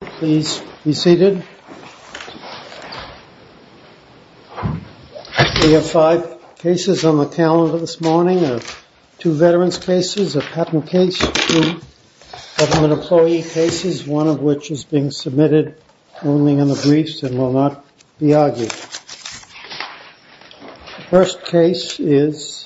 Please be seated. We have five cases on the calendar this morning, two veterans cases, a patent case, two government employee cases, one of which is being submitted only in the briefs and will not be argued. The first case is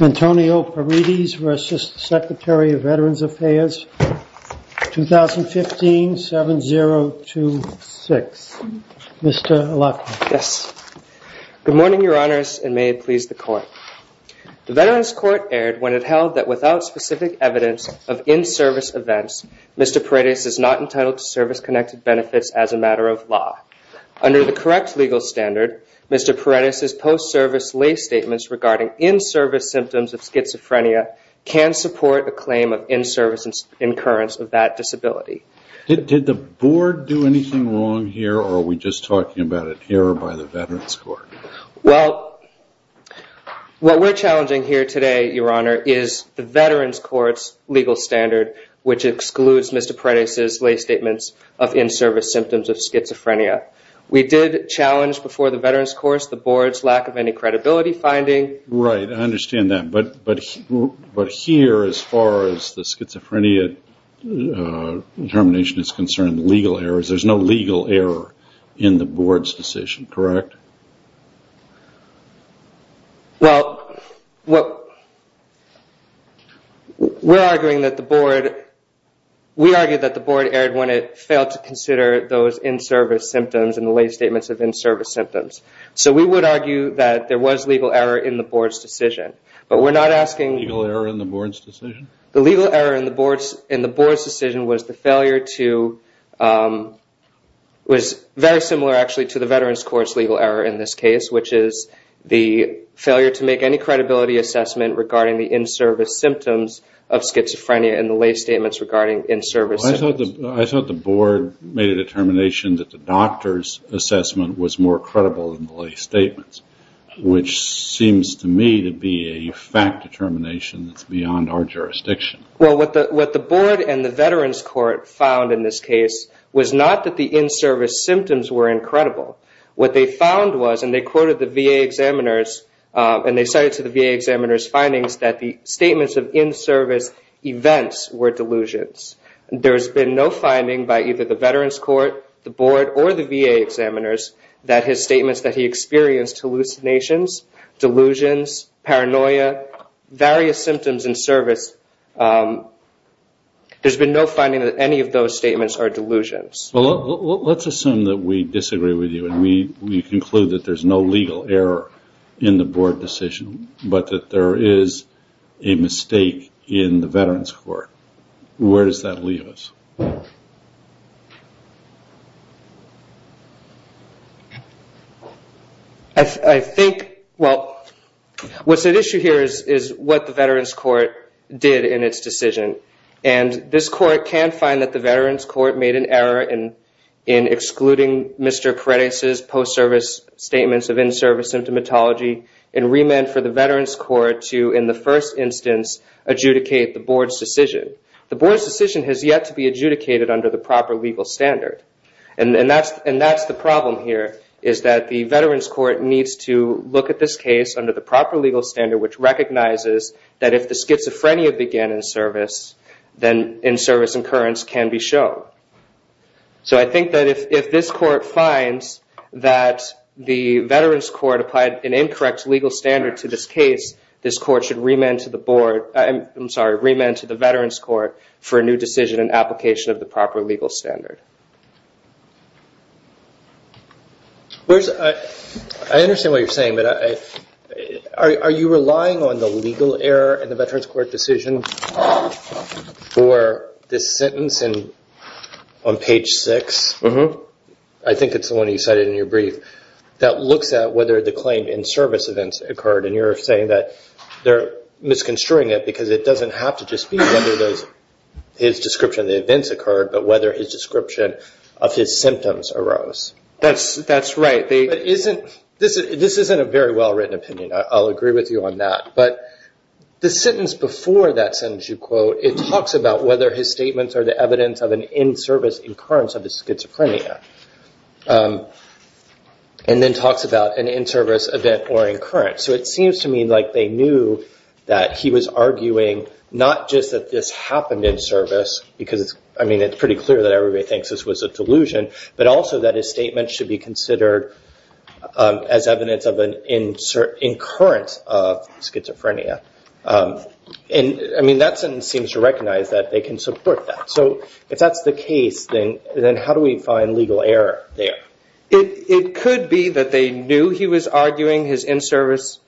Antonio Paredes v. Secretary of Veterans Affairs, 2015-7026. Mr. Lachlan. Yes. Good morning, Your Honors, and may it please the Court. The Veterans Court erred when it held that without specific evidence of in-service events, Mr. Paredes is not entitled to service-connected benefits as a matter of law. Under the correct legal standard, Mr. Paredes' post-service lay statements regarding in-service symptoms of schizophrenia can support a claim of in-service incurrence of that disability. Did the Board do anything wrong here, or are we just talking about it here by the Veterans Court? Well, what we're challenging here today, Your Honor, is the Veterans Court's legal standard, which excludes Mr. Paredes' lay statements of in-service symptoms of schizophrenia. We did challenge before the Veterans Court the Board's lack of any credibility finding. Right, I understand that, but here, as far as the schizophrenia determination is concerned, the legal error is there's no legal error in the Board's decision, correct? Well, we're arguing that the Board erred when it failed to consider those in-service symptoms and the lay statements of in-service symptoms. So we would argue that there was legal error in the Board's decision, but we're not asking... Legal error in the Board's decision? The legal error in the Board's decision was the failure to... which is the failure to make any credibility assessment regarding the in-service symptoms of schizophrenia and the lay statements regarding in-service symptoms. I thought the Board made a determination that the doctor's assessment was more credible than the lay statements, which seems to me to be a fact determination that's beyond our jurisdiction. Well, what the Board and the Veterans Court found in this case was not that the in-service symptoms were incredible. What they found was, and they quoted the VA examiners, and they cited to the VA examiners' findings that the statements of in-service events were delusions. There's been no finding by either the Veterans Court, the Board, or the VA examiners that his statements that he experienced hallucinations, delusions, paranoia, various symptoms in service, there's been no finding that any of those statements are delusions. Well, let's assume that we disagree with you and we conclude that there's no legal error in the Board decision, but that there is a mistake in the Veterans Court. Where does that leave us? I think, well, what's at issue here is what the Veterans Court did in its decision, and this Court can find that the Veterans Court made an error in excluding Mr. Paredes' post-service statements of in-service symptomatology and re-meant for the Veterans Court to, in the first instance, adjudicate the Board's decision. The Board's decision has yet to be adjudicated under the proper legal standard, and that's the problem here is that the Veterans Court needs to look at this case under the proper legal standard, which recognizes that if the schizophrenia began in service, then in-service incurrence can be shown. So I think that if this Court finds that the Veterans Court applied an incorrect legal standard to this case, this Court should re-ment to the Veterans Court for a new decision and application of the proper legal standard. I understand what you're saying, but are you relying on the legal error in the Veterans Court decision for this sentence on page 6? I think it's the one you cited in your brief that looks at whether the claim in-service events occurred, and you're saying that they're misconstruing it because it doesn't have to just be whether his description of the events occurred, but whether his description of his symptoms arose. That's right. This isn't a very well-written opinion. I'll agree with you on that, but the sentence before that sentence you quote, it talks about whether his statements are the evidence of an in-service incurrence of the schizophrenia, and then talks about an in-service event or incurrence. So it seems to me like they knew that he was arguing not just that this happened in service, because it's pretty clear that everybody thinks this was a delusion, but also that his statement should be considered as evidence of an incurrence of schizophrenia. That sentence seems to recognize that they can support that. So if that's the case, then how do we find legal error there? It could be that they knew he was arguing his in-service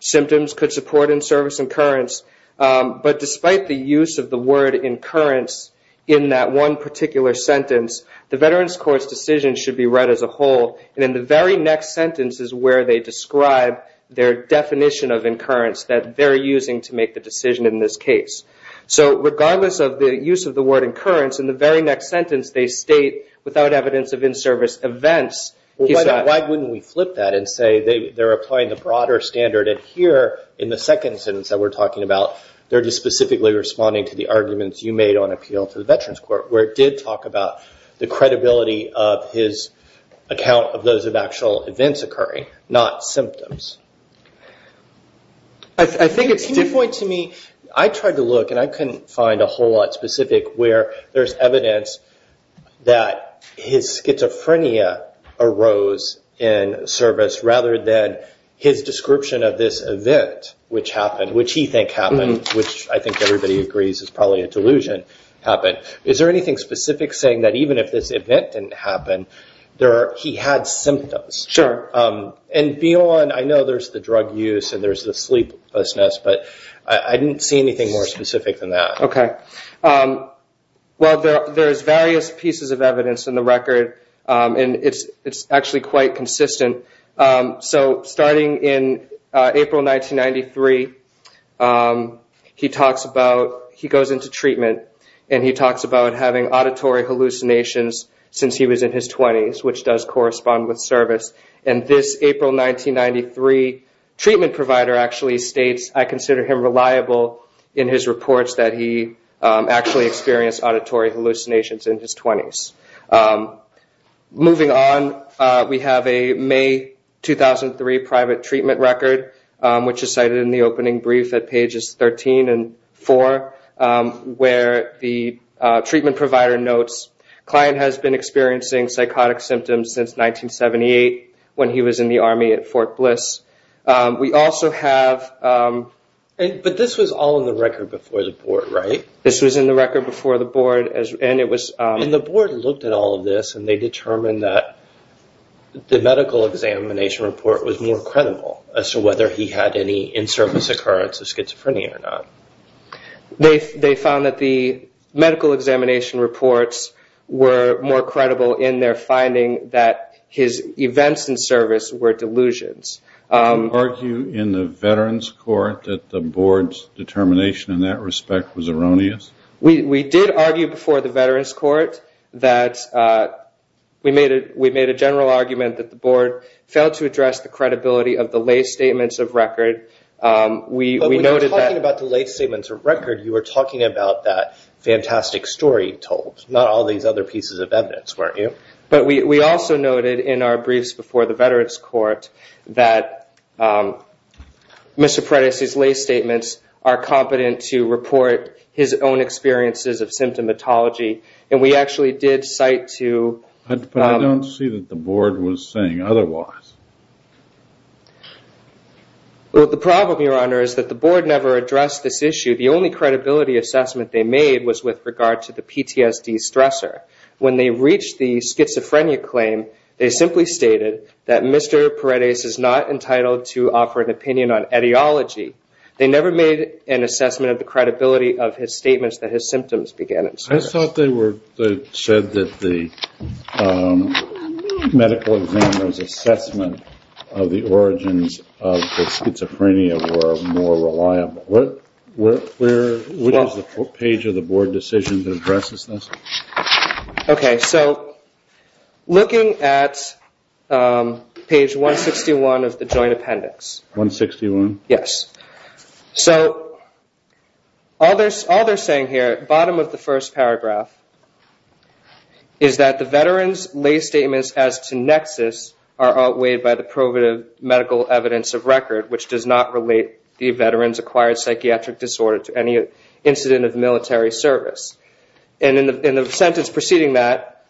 symptoms could support in-service incurrence, but despite the use of the word incurrence in that one particular sentence, the Veterans Court's decision should be read as a whole, and in the very next sentence is where they describe their definition of incurrence that they're using to make the decision in this case. So regardless of the use of the word incurrence, in the very next sentence they state, without evidence of in-service events, he's not. Why wouldn't we flip that and say they're applying the broader standard, and here in the second sentence that we're talking about, they're just specifically responding to the arguments you made on appeal to the Veterans Court, where it did talk about the credibility of his account of those of actual events occurring, not symptoms. I think it's a good point to me. I tried to look, and I couldn't find a whole lot specific where there's evidence that his schizophrenia arose in service, rather than his description of this event, which he thinks happened, which I think everybody agrees is probably a delusion, happened. Is there anything specific saying that even if this event didn't happen, he had symptoms? Sure. And beyond, I know there's the drug use and there's the sleeplessness, but I didn't see anything more specific than that. Okay. Well, there's various pieces of evidence in the record, and it's actually quite consistent. Starting in April 1993, he goes into treatment, and he talks about having auditory hallucinations since he was in his 20s, which does correspond with service. And this April 1993 treatment provider actually states, I consider him reliable in his reports that he actually experienced auditory hallucinations in his 20s. Moving on, we have a May 2003 private treatment record, which is cited in the opening brief at pages 13 and 4, where the treatment provider notes, client has been experiencing psychotic symptoms since 1978, when he was in the Army at Fort Bliss. We also have... But this was all in the record before the board, right? This was in the record before the board, and it was... And the board looked at all of this, and they determined that the medical examination report was more credible as to whether he had any in-service occurrence of schizophrenia or not. They found that the medical examination reports were more credible in their finding that his events in service were delusions. Did you argue in the veterans' court that the board's determination in that respect was erroneous? We did argue before the veterans' court that... We made a general argument that the board failed to address the credibility of the lay statements of record. We noted that... But when you're talking about the lay statements of record, you were talking about that fantastic story told, not all these other pieces of evidence, weren't you? But we also noted in our briefs before the veterans' court that Mr. Predis' lay statements are competent to report his own experiences of symptomatology, and we actually did cite to... But I don't see that the board was saying otherwise. Well, the problem, Your Honor, is that the board never addressed this issue. The only credibility assessment they made was with regard to the PTSD stressor. When they reached the schizophrenia claim, they simply stated that Mr. Predis is not entitled to offer an opinion on etiology. They never made an assessment of the credibility of his statements that his symptoms began in service. I thought they said that the medical examiner's assessment of the origins of the schizophrenia were more reliable. What is the page of the board decision that addresses this? Okay, so looking at page 161 of the joint appendix. 161? Yes. So all they're saying here, bottom of the first paragraph, is that the veterans' lay statements as to nexus are outweighed by the probative medical evidence of record, which does not relate the veterans' acquired psychiatric disorder to any incident of military service. And in the sentence preceding that,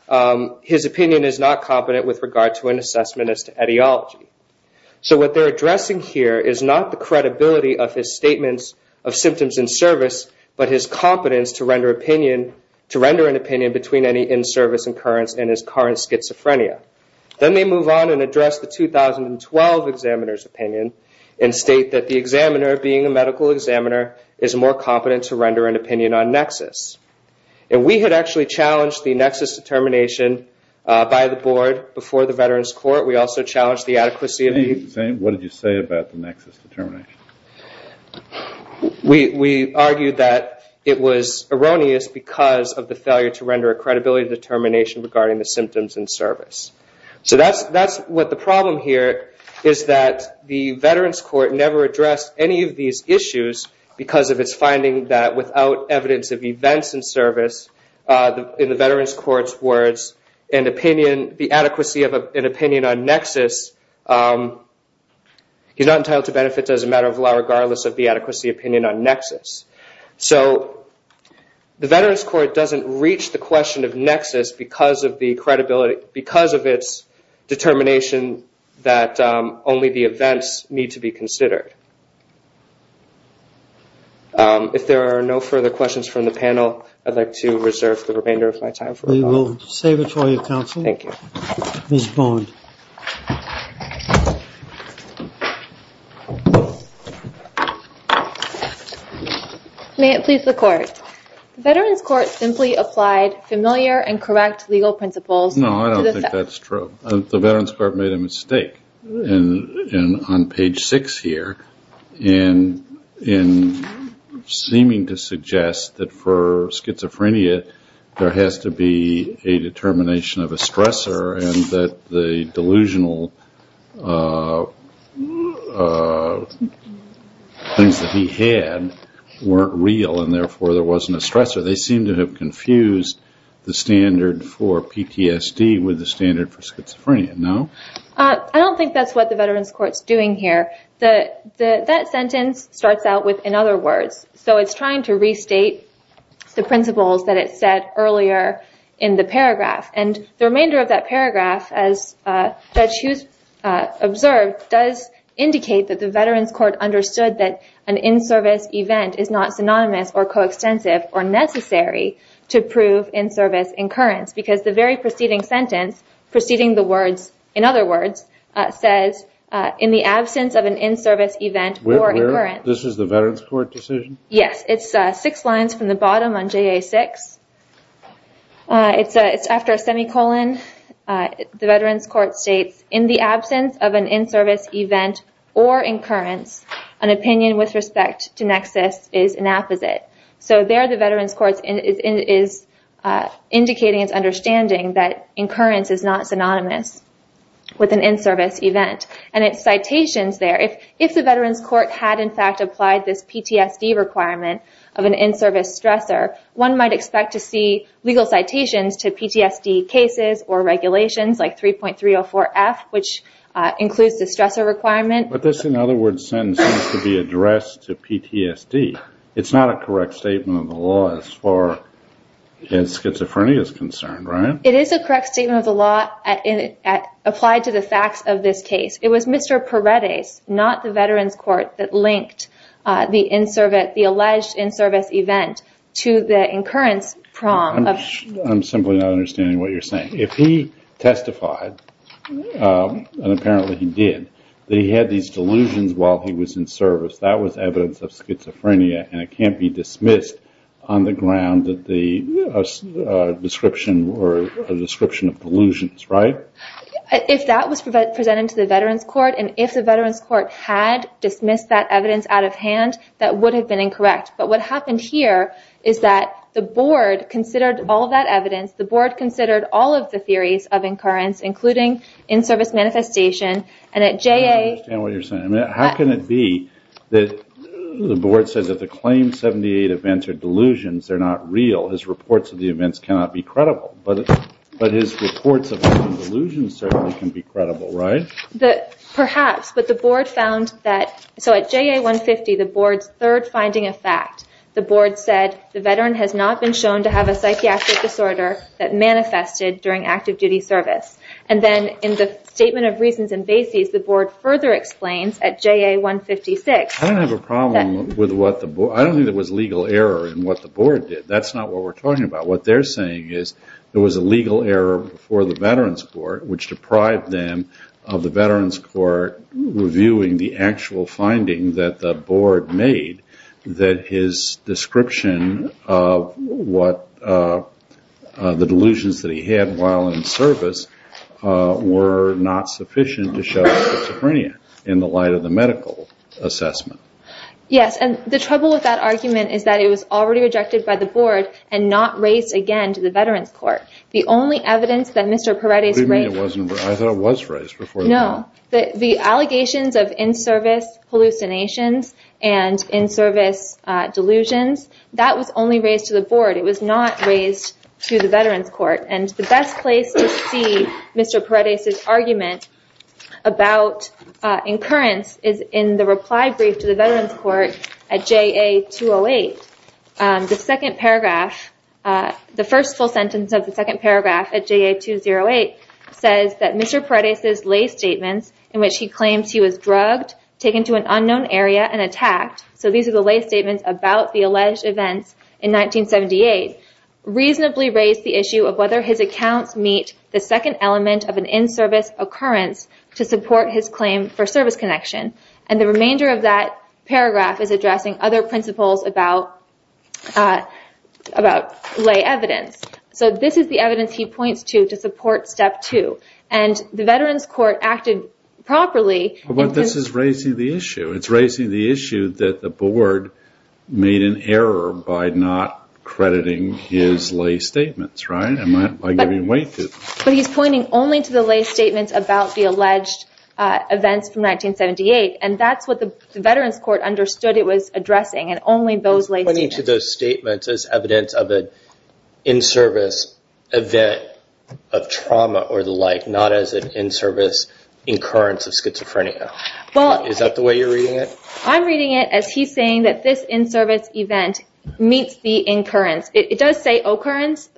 his opinion is not competent with regard to an assessment as to etiology. So what they're addressing here is not the credibility of his statements of symptoms in service, but his competence to render an opinion between any in-service occurrence and his current schizophrenia. Then they move on and address the 2012 examiner's opinion and state that the examiner, being a medical examiner, is more competent to render an opinion on nexus. And we had actually challenged the nexus determination by the board before the veterans' court. We also challenged the adequacy of the- What did you say about the nexus determination? We argued that it was erroneous because of the failure to render a credibility determination regarding the symptoms in service. So that's what the problem here is that the veterans' court never addressed any of these issues because of its finding that without evidence of events in service, in the veterans' court's words, an opinion, the adequacy of an opinion on nexus, he's not entitled to benefits as a matter of law regardless of the adequacy opinion on nexus. So the veterans' court doesn't reach the question of nexus because of the credibility, because of its determination that only the events need to be considered. If there are no further questions from the panel, I'd like to reserve the remainder of my time. We will save it for you, counsel. Thank you. Ms. Bond. May it please the court. The veterans' court simply applied familiar and correct legal principles. No, I don't think that's true. The veterans' court made a mistake. On page six here, in seeming to suggest that for schizophrenia, there has to be a determination of a stressor and that the delusional things that he had weren't real and therefore there wasn't a stressor. They seem to have confused the standard for PTSD with the standard for schizophrenia, no? I don't think that's what the veterans' court's doing here. That sentence starts out with, in other words, so it's trying to restate the principles that it said earlier in the paragraph. And the remainder of that paragraph, as Judge Hughes observed, does indicate that the veterans' court understood that an in-service event is not synonymous or coextensive or necessary to prove in-service incurrence because the very preceding sentence, preceding the words, in other words, says, in the absence of an in-service event or incurrence. This is the veterans' court decision? Yes. It's six lines from the bottom on JA6. It's after a semicolon. The veterans' court states, in the absence of an in-service event or incurrence, an opinion with respect to nexus is an apposite. So there the veterans' court is indicating its understanding that incurrence is not synonymous with an in-service event. And it's citations there. If the veterans' court had, in fact, applied this PTSD requirement of an in-service stressor, one might expect to see legal citations to PTSD cases or regulations like 3.304F, which includes the stressor requirement. But this, in other words, sentence needs to be addressed to PTSD. It's not a correct statement of the law as far as schizophrenia is concerned, right? It is a correct statement of the law applied to the facts of this case. It was Mr. Paredes, not the veterans' court, that linked the alleged in-service event to the incurrence prom. I'm simply not understanding what you're saying. If he testified, and apparently he did, that he had these delusions while he was in service, that was evidence of schizophrenia, and it can't be dismissed on the ground that the description were a description of delusions, right? If that was presented to the veterans' court, and if the veterans' court had dismissed that evidence out of hand, that would have been incorrect. But what happened here is that the board considered all of that evidence. The board considered all of the theories of incurrence, including in-service manifestation. I don't understand what you're saying. How can it be that the board says that the claimed 78 events are delusions? They're not real. His reports of the events cannot be credible. But his reports of delusions certainly can be credible, right? Perhaps, but the board found that at JA-150, the board's third finding of fact, the board said the veteran has not been shown to have a psychiatric disorder that manifested during active duty service. And then in the Statement of Reasons and Basis, the board further explains at JA-156. I don't have a problem with what the board. I don't think there was legal error in what the board did. That's not what we're talking about. What they're saying is there was a legal error before the veterans' court, which deprived them of the veterans' court reviewing the actual finding that the board made that his description of what the delusions that he had while in service were not sufficient to show schizophrenia in the light of the medical assessment. Yes, and the trouble with that argument is that it was already rejected by the board and not raised again to the veterans' court. The only evidence that Mr. Peretti's rake. What do you mean it wasn't raised? I thought it was raised before the board. No. The allegations of in-service hallucinations and in-service delusions, that was only raised to the board. It was not raised to the veterans' court. And the best place to see Mr. Peretti's argument about incurrence is in the reply brief to the veterans' court at JA-208. The second paragraph, the first full sentence of the second paragraph at JA-208, says that Mr. Peretti's lay statements in which he claims he was drugged, taken to an unknown area, and attacked, so these are the lay statements about the alleged events in 1978, reasonably raised the issue of whether his accounts meet the second element of an in-service occurrence to support his claim for service connection. And the remainder of that paragraph is addressing other principles about lay evidence. So this is the evidence he points to to support step two. And the veterans' court acted properly. But this is raising the issue. It's raising the issue that the board made an error by not crediting his lay statements, right? By giving way to it. But he's pointing only to the lay statements about the alleged events from 1978, and that's what the veterans' court understood it was addressing, and only those lay statements. He's pointing to those statements as evidence of an in-service event of trauma or the like, not as an in-service incurrence of schizophrenia. Is that the way you're reading it? I'm reading it as he's saying that this in-service event meets the incurrence. It does say occurrence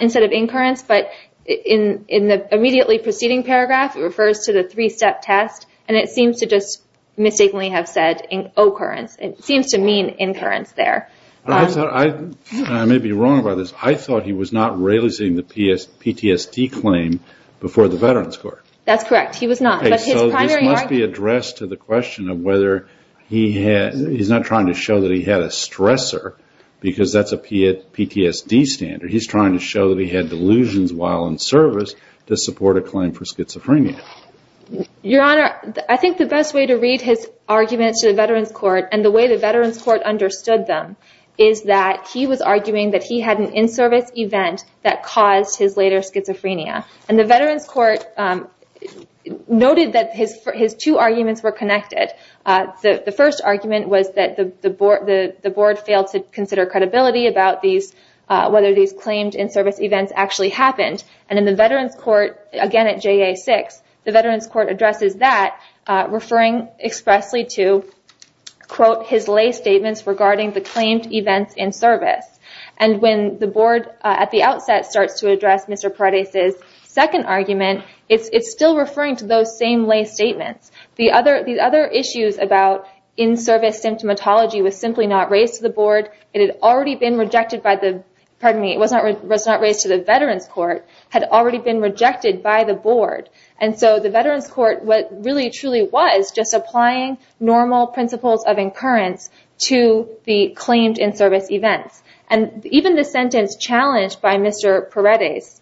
instead of incurrence, but in the immediately preceding paragraph it refers to the three-step test, and it seems to just mistakenly have said occurrence. It seems to mean incurrence there. I may be wrong about this. I thought he was not raising the PTSD claim before the veterans' court. That's correct. He was not. So this must be addressed to the question of whether he's not trying to show that he had a stressor because that's a PTSD standard. He's trying to show that he had delusions while in service to support a claim for schizophrenia. And the way the veterans' court understood them is that he was arguing that he had an in-service event that caused his later schizophrenia. And the veterans' court noted that his two arguments were connected. The first argument was that the board failed to consider credibility about whether these claimed in-service events actually happened. And in the veterans' court, again at JA-6, the veterans' court addresses that, referring expressly to, quote, his lay statements regarding the claimed events in service. And when the board at the outset starts to address Mr. Paredes' second argument, it's still referring to those same lay statements. The other issues about in-service symptomatology was simply not raised to the board. It had already been rejected by the veterans' court, had already been rejected by the board. And so the veterans' court what really truly was just applying normal principles of incurrence to the claimed in-service events. And even the sentence challenged by Mr. Paredes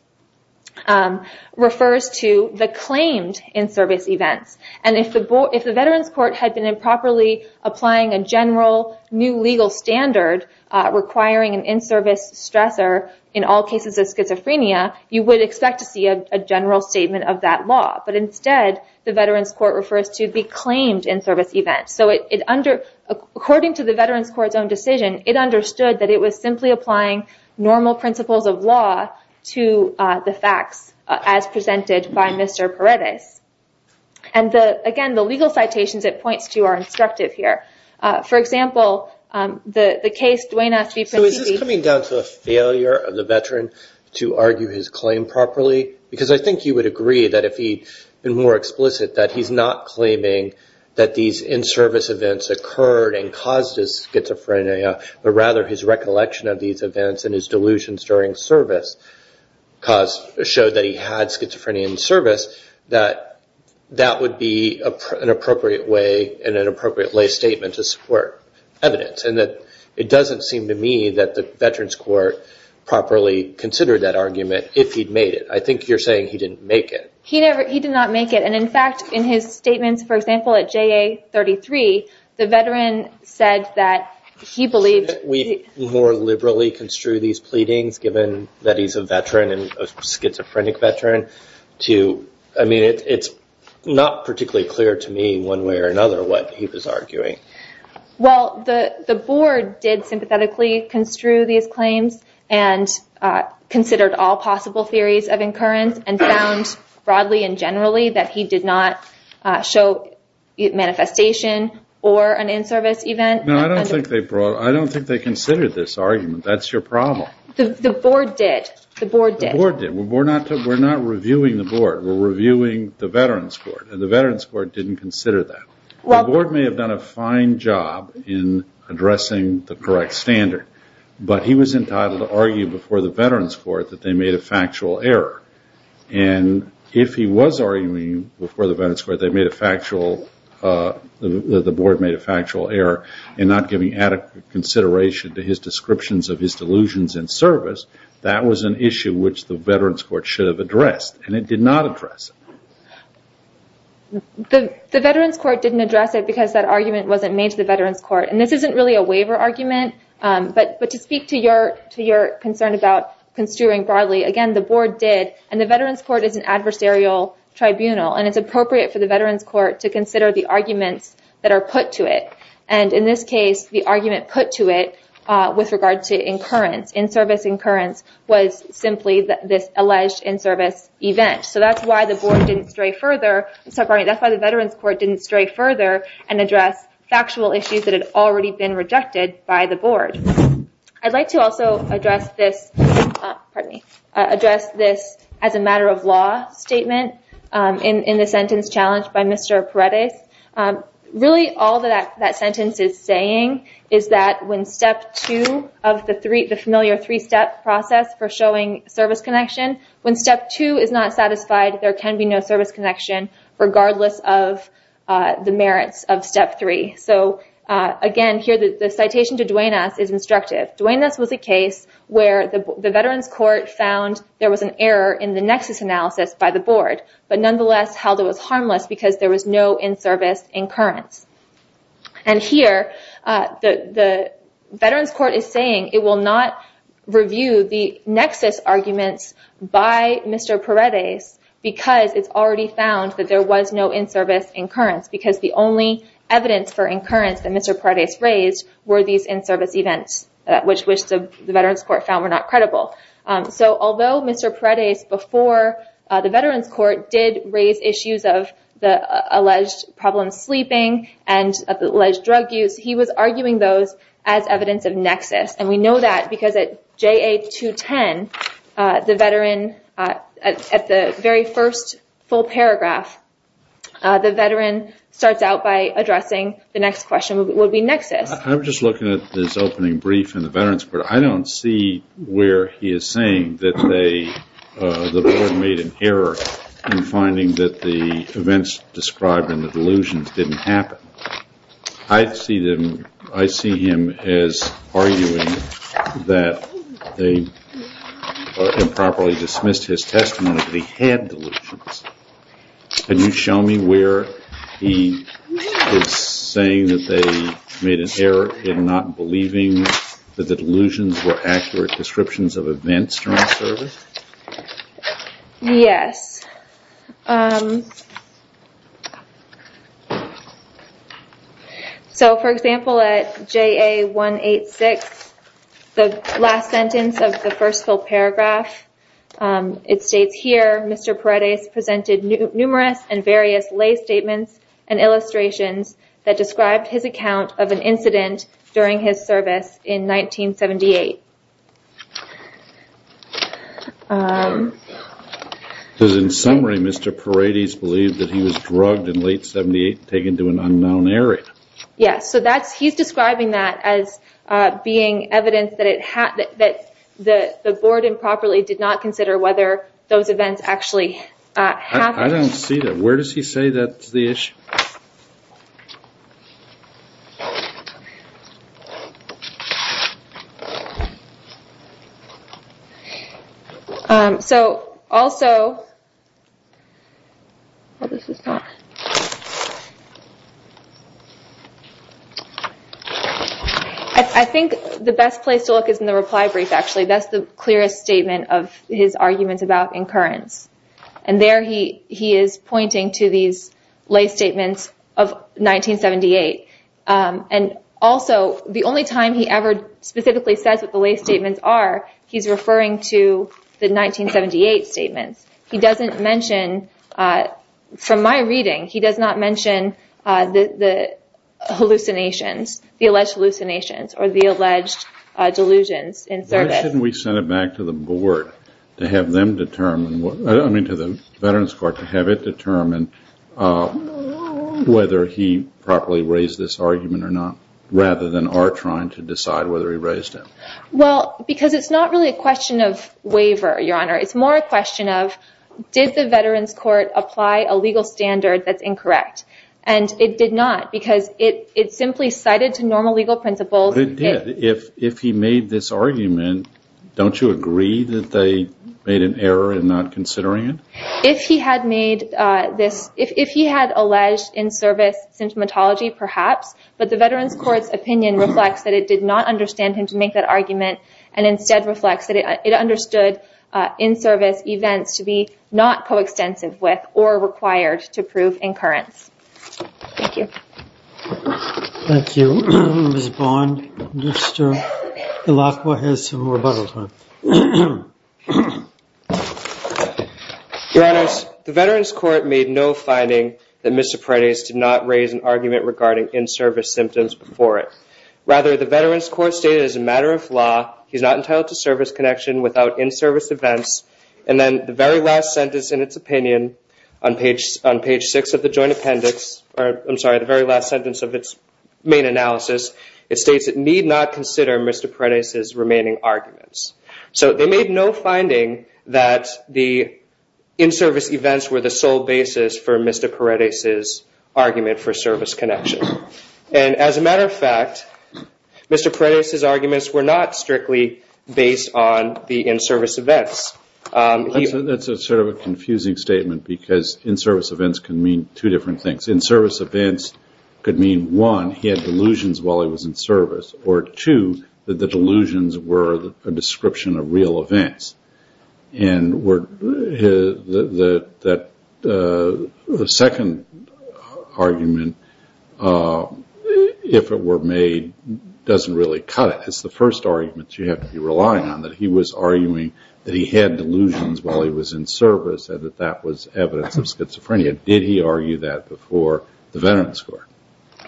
refers to the claimed in-service events. And if the veterans' court had been improperly applying a general new legal standard requiring an in-service stressor in all cases of schizophrenia, you would expect to see a general statement of that law. But instead, the veterans' court refers to the claimed in-service events. So according to the veterans' court's own decision, it understood that it was simply applying normal principles of law to the facts, as presented by Mr. Paredes. And, again, the legal citations it points to are instructive here. For example, the case Dwayne S. v. Prentissi. So is this coming down to a failure of the veteran to argue his claim properly? Because I think you would agree that if he had been more explicit, that he's not claiming that these in-service events occurred and caused his schizophrenia, but rather his recollection of these events and his delusions during service showed that he had schizophrenia in service, that that would be an appropriate way and an appropriate lay statement to support evidence. And it doesn't seem to me that the veterans' court properly considered that argument if he'd made it. I think you're saying he didn't make it. He did not make it. And, in fact, in his statements, for example, at JA-33, the veteran said that he believed— Shouldn't we more liberally construe these pleadings, given that he's a veteran, a schizophrenic veteran? I mean, it's not particularly clear to me, one way or another, what he was arguing. Well, the board did sympathetically construe these claims and considered all possible theories of incurrence and found, broadly and generally, that he did not show manifestation or an in-service event. No, I don't think they considered this argument. That's your problem. The board did. The board did. The board did. We're not reviewing the board. We're reviewing the veterans' court, and the veterans' court didn't consider that. The board may have done a fine job in addressing the correct standard, but he was entitled to argue before the veterans' court that they made a factual error. And if he was arguing before the veterans' court that they made a factual— that the board made a factual error in not giving adequate consideration to his descriptions of his delusions in service, that was an issue which the veterans' court should have addressed, and it did not address it. The veterans' court didn't address it because that argument wasn't made to the veterans' court. And this isn't really a waiver argument, but to speak to your concern about construing broadly, again, the board did, and the veterans' court is an adversarial tribunal, and it's appropriate for the veterans' court to consider the arguments that are put to it. And in this case, the argument put to it with regard to incurrence, in-service incurrence, was simply this alleged in-service event. So that's why the board didn't stray further— sorry, that's why the veterans' court didn't stray further and address factual issues that had already been rejected by the board. I'd like to also address this as a matter of law statement in the sentence challenged by Mr. Paredes. Really, all that sentence is saying is that when step two of the familiar three-step process for showing service connection, when step two is not satisfied, there can be no service connection regardless of the merits of step three. So, again, here the citation to Duenas is instructive. Duenas was a case where the veterans' court found there was an error in the nexus analysis by the board, but nonetheless held it was harmless because there was no in-service incurrence. And here the veterans' court is saying it will not review the nexus arguments by Mr. Paredes because it's already found that there was no in-service incurrence because the only evidence for incurrence that Mr. Paredes raised were these in-service events, which the veterans' court found were not credible. So, although Mr. Paredes, before the veterans' court, did raise issues of the alleged problem sleeping and the alleged drug use, he was arguing those as evidence of nexus. And we know that because at JA210, the veteran at the very first full paragraph, the veteran starts out by addressing the next question, would we nexus? I'm just looking at this opening brief in the veterans' court. I don't see where he is saying that the board made an error in finding that the events described in the delusions didn't happen. I see him as arguing that they improperly dismissed his testimony that he had delusions. Can you show me where he is saying that they made an error in not believing that the delusions were accurate descriptions of events during service? Yes. So, for example, at JA186, the last sentence of the first full paragraph, it states here, Mr. Paredes presented numerous and various lay statements and illustrations that described his account of an incident during his service in 1978. Because in summary, Mr. Paredes believed that he was drugged in late 78 and taken to an unknown area. Yes, so he's describing that as being evidence that the board improperly did not consider whether those events actually happened. I don't see that. Where does he say that's the issue? So, also, I think the best place to look is in the reply brief, actually. That's the clearest statement of his arguments about incurrence. And there he is pointing to these lay statements of 1978. And also, the only time he ever specifically says what the lay statements are, he's referring to the 1978 statements. He doesn't mention, from my reading, he does not mention the hallucinations, the alleged hallucinations or the alleged delusions in service. Why shouldn't we send it back to the board to have them determine, I mean to the Veterans Court, to have it determine whether he properly raised this argument or not, rather than our trying to decide whether he raised it? Well, because it's not really a question of waiver, Your Honor. It's more a question of did the Veterans Court apply a legal standard that's incorrect. And it did not because it simply cited to normal legal principles. But it did. If he made this argument, don't you agree that they made an error in not considering it? If he had made this, if he had alleged in-service symptomatology, perhaps, but the Veterans Court's opinion reflects that it did not understand him to make that argument and instead reflects that it understood in-service events to be not coextensive with or required to prove incurrence. Thank you. Thank you. Ms. Bond, Mr. Ilaqua has some rebuttal time. Your Honors, the Veterans Court made no finding that Mr. Paredes did not raise an argument regarding in-service symptoms before it. Rather, the Veterans Court stated as a matter of law, he's not entitled to service connection without in-service events. And then the very last sentence in its opinion on page 6 of the joint appendix, or I'm sorry, the very last sentence of its main analysis, it states it need not consider Mr. Paredes' remaining arguments. So they made no finding that the in-service events were the sole basis for Mr. Paredes' argument for service connection. And as a matter of fact, Mr. Paredes' arguments were not strictly based on the in-service events. That's sort of a confusing statement because in-service events can mean two different things. In-service events could mean, one, he had delusions while he was in service, or two, that the delusions were a description of real events. And the second argument, if it were made, doesn't really cut it. It's the first argument you have to be relying on, that he was arguing that he had delusions while he was in service and that that was evidence of schizophrenia. Did he argue that before the Veterans Court?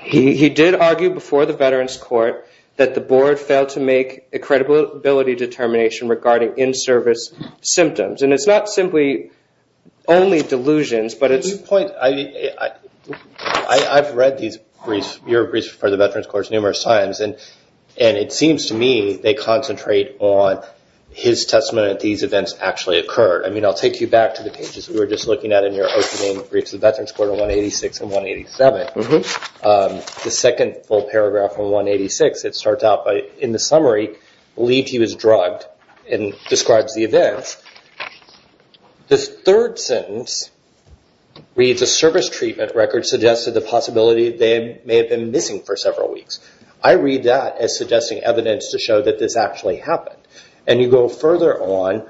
He did argue before the Veterans Court that the board failed to make a credibility determination regarding in-service symptoms. And it's not simply only delusions, but it's... I've read your briefs for the Veterans Court numerous times, and it seems to me they concentrate on his testimony that these events actually occurred. I mean, I'll take you back to the pages we were just looking at in your opening briefs, the Veterans Court of 186 and 187. The second full paragraph from 186, it starts out by, in the summary, believed he was drugged and describes the events. The third sentence reads, a service treatment record suggested the possibility they may have been missing for several weeks. I read that as suggesting evidence to show that this actually happened. And you go further on,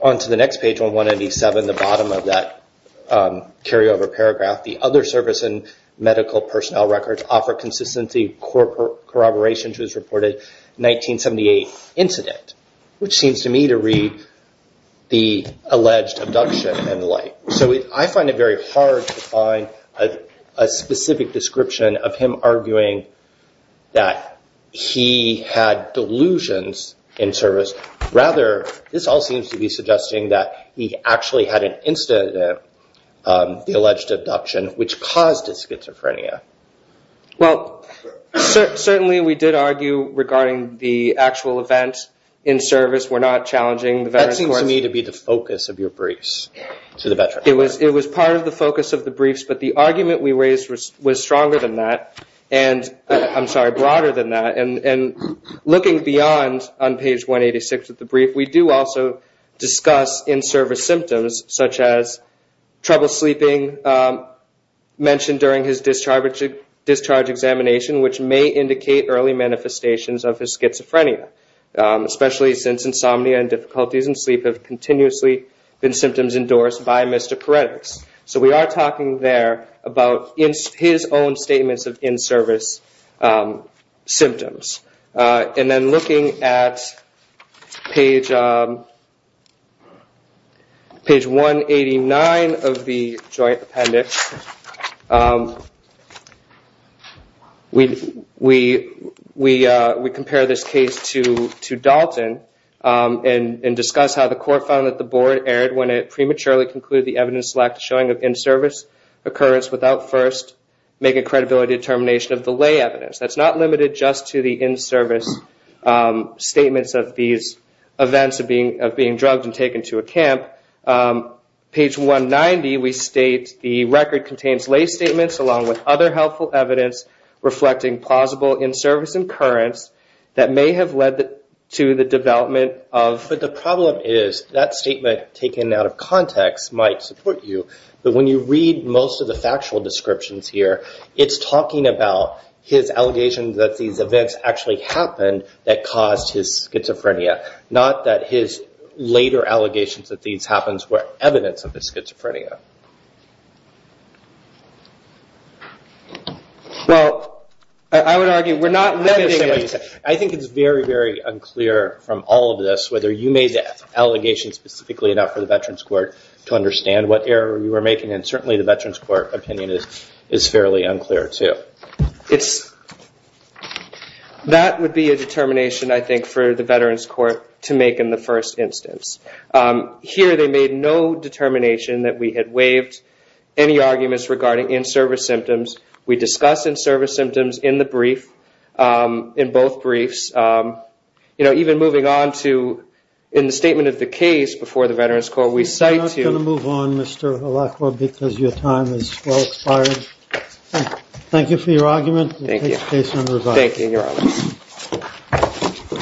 onto the next page on 187, the bottom of that carryover paragraph, the other service and medical personnel records offer consistency corroboration to his reported 1978 incident, which seems to me to read the alleged abduction and the like. So I find it very hard to find a specific description of him arguing that he had delusions in service. Rather, this all seems to be suggesting that he actually had an incident, the alleged abduction, which caused his schizophrenia. Well, certainly we did argue regarding the actual event in service. We're not challenging the Veterans Court. That seems to me to be the focus of your briefs to the Veterans Court. It was part of the focus of the briefs, but the argument we raised was stronger than that. I'm sorry, broader than that. And looking beyond on page 186 of the brief, we do also discuss in-service symptoms, such as trouble sleeping mentioned during his discharge examination, which may indicate early manifestations of his schizophrenia, especially since insomnia and difficulties in sleep have continuously been symptoms endorsed by Mr. Peredix. So we are talking there about his own statements of in-service symptoms. And then looking at page 189 of the joint appendix, we compare this case to Dalton and discuss how the court found that the board erred when it prematurely concluded the evidence lacked a showing of in-service occurrence without first making a credibility determination of the lay evidence. That's not limited just to the in-service statements of these events of being drugged and taken to a camp. Page 190, we state the record contains lay statements along with other helpful evidence reflecting plausible in-service occurrence that may have led to the development of... But the problem is that statement taken out of context might support you, but when you read most of the factual descriptions here, it's talking about his allegations that these events actually happened that caused his schizophrenia, not that his later allegations that these happens were evidence of his schizophrenia. Well, I would argue we're not... I think it's very, very unclear from all of this, whether you made the allegations specifically enough for the Veterans Court to understand what error you were making, and certainly the Veterans Court opinion is fairly unclear too. That would be a determination, I think, for the Veterans Court to make in the first instance. Here they made no determination that we had waived any arguments regarding in-service symptoms. We discuss in-service symptoms in the brief, in both briefs. You know, even moving on to in the statement of the case before the Veterans Court, we cite to... We're not going to move on, Mr. Alarco, because your time has well expired. Thank you for your argument. Thank you.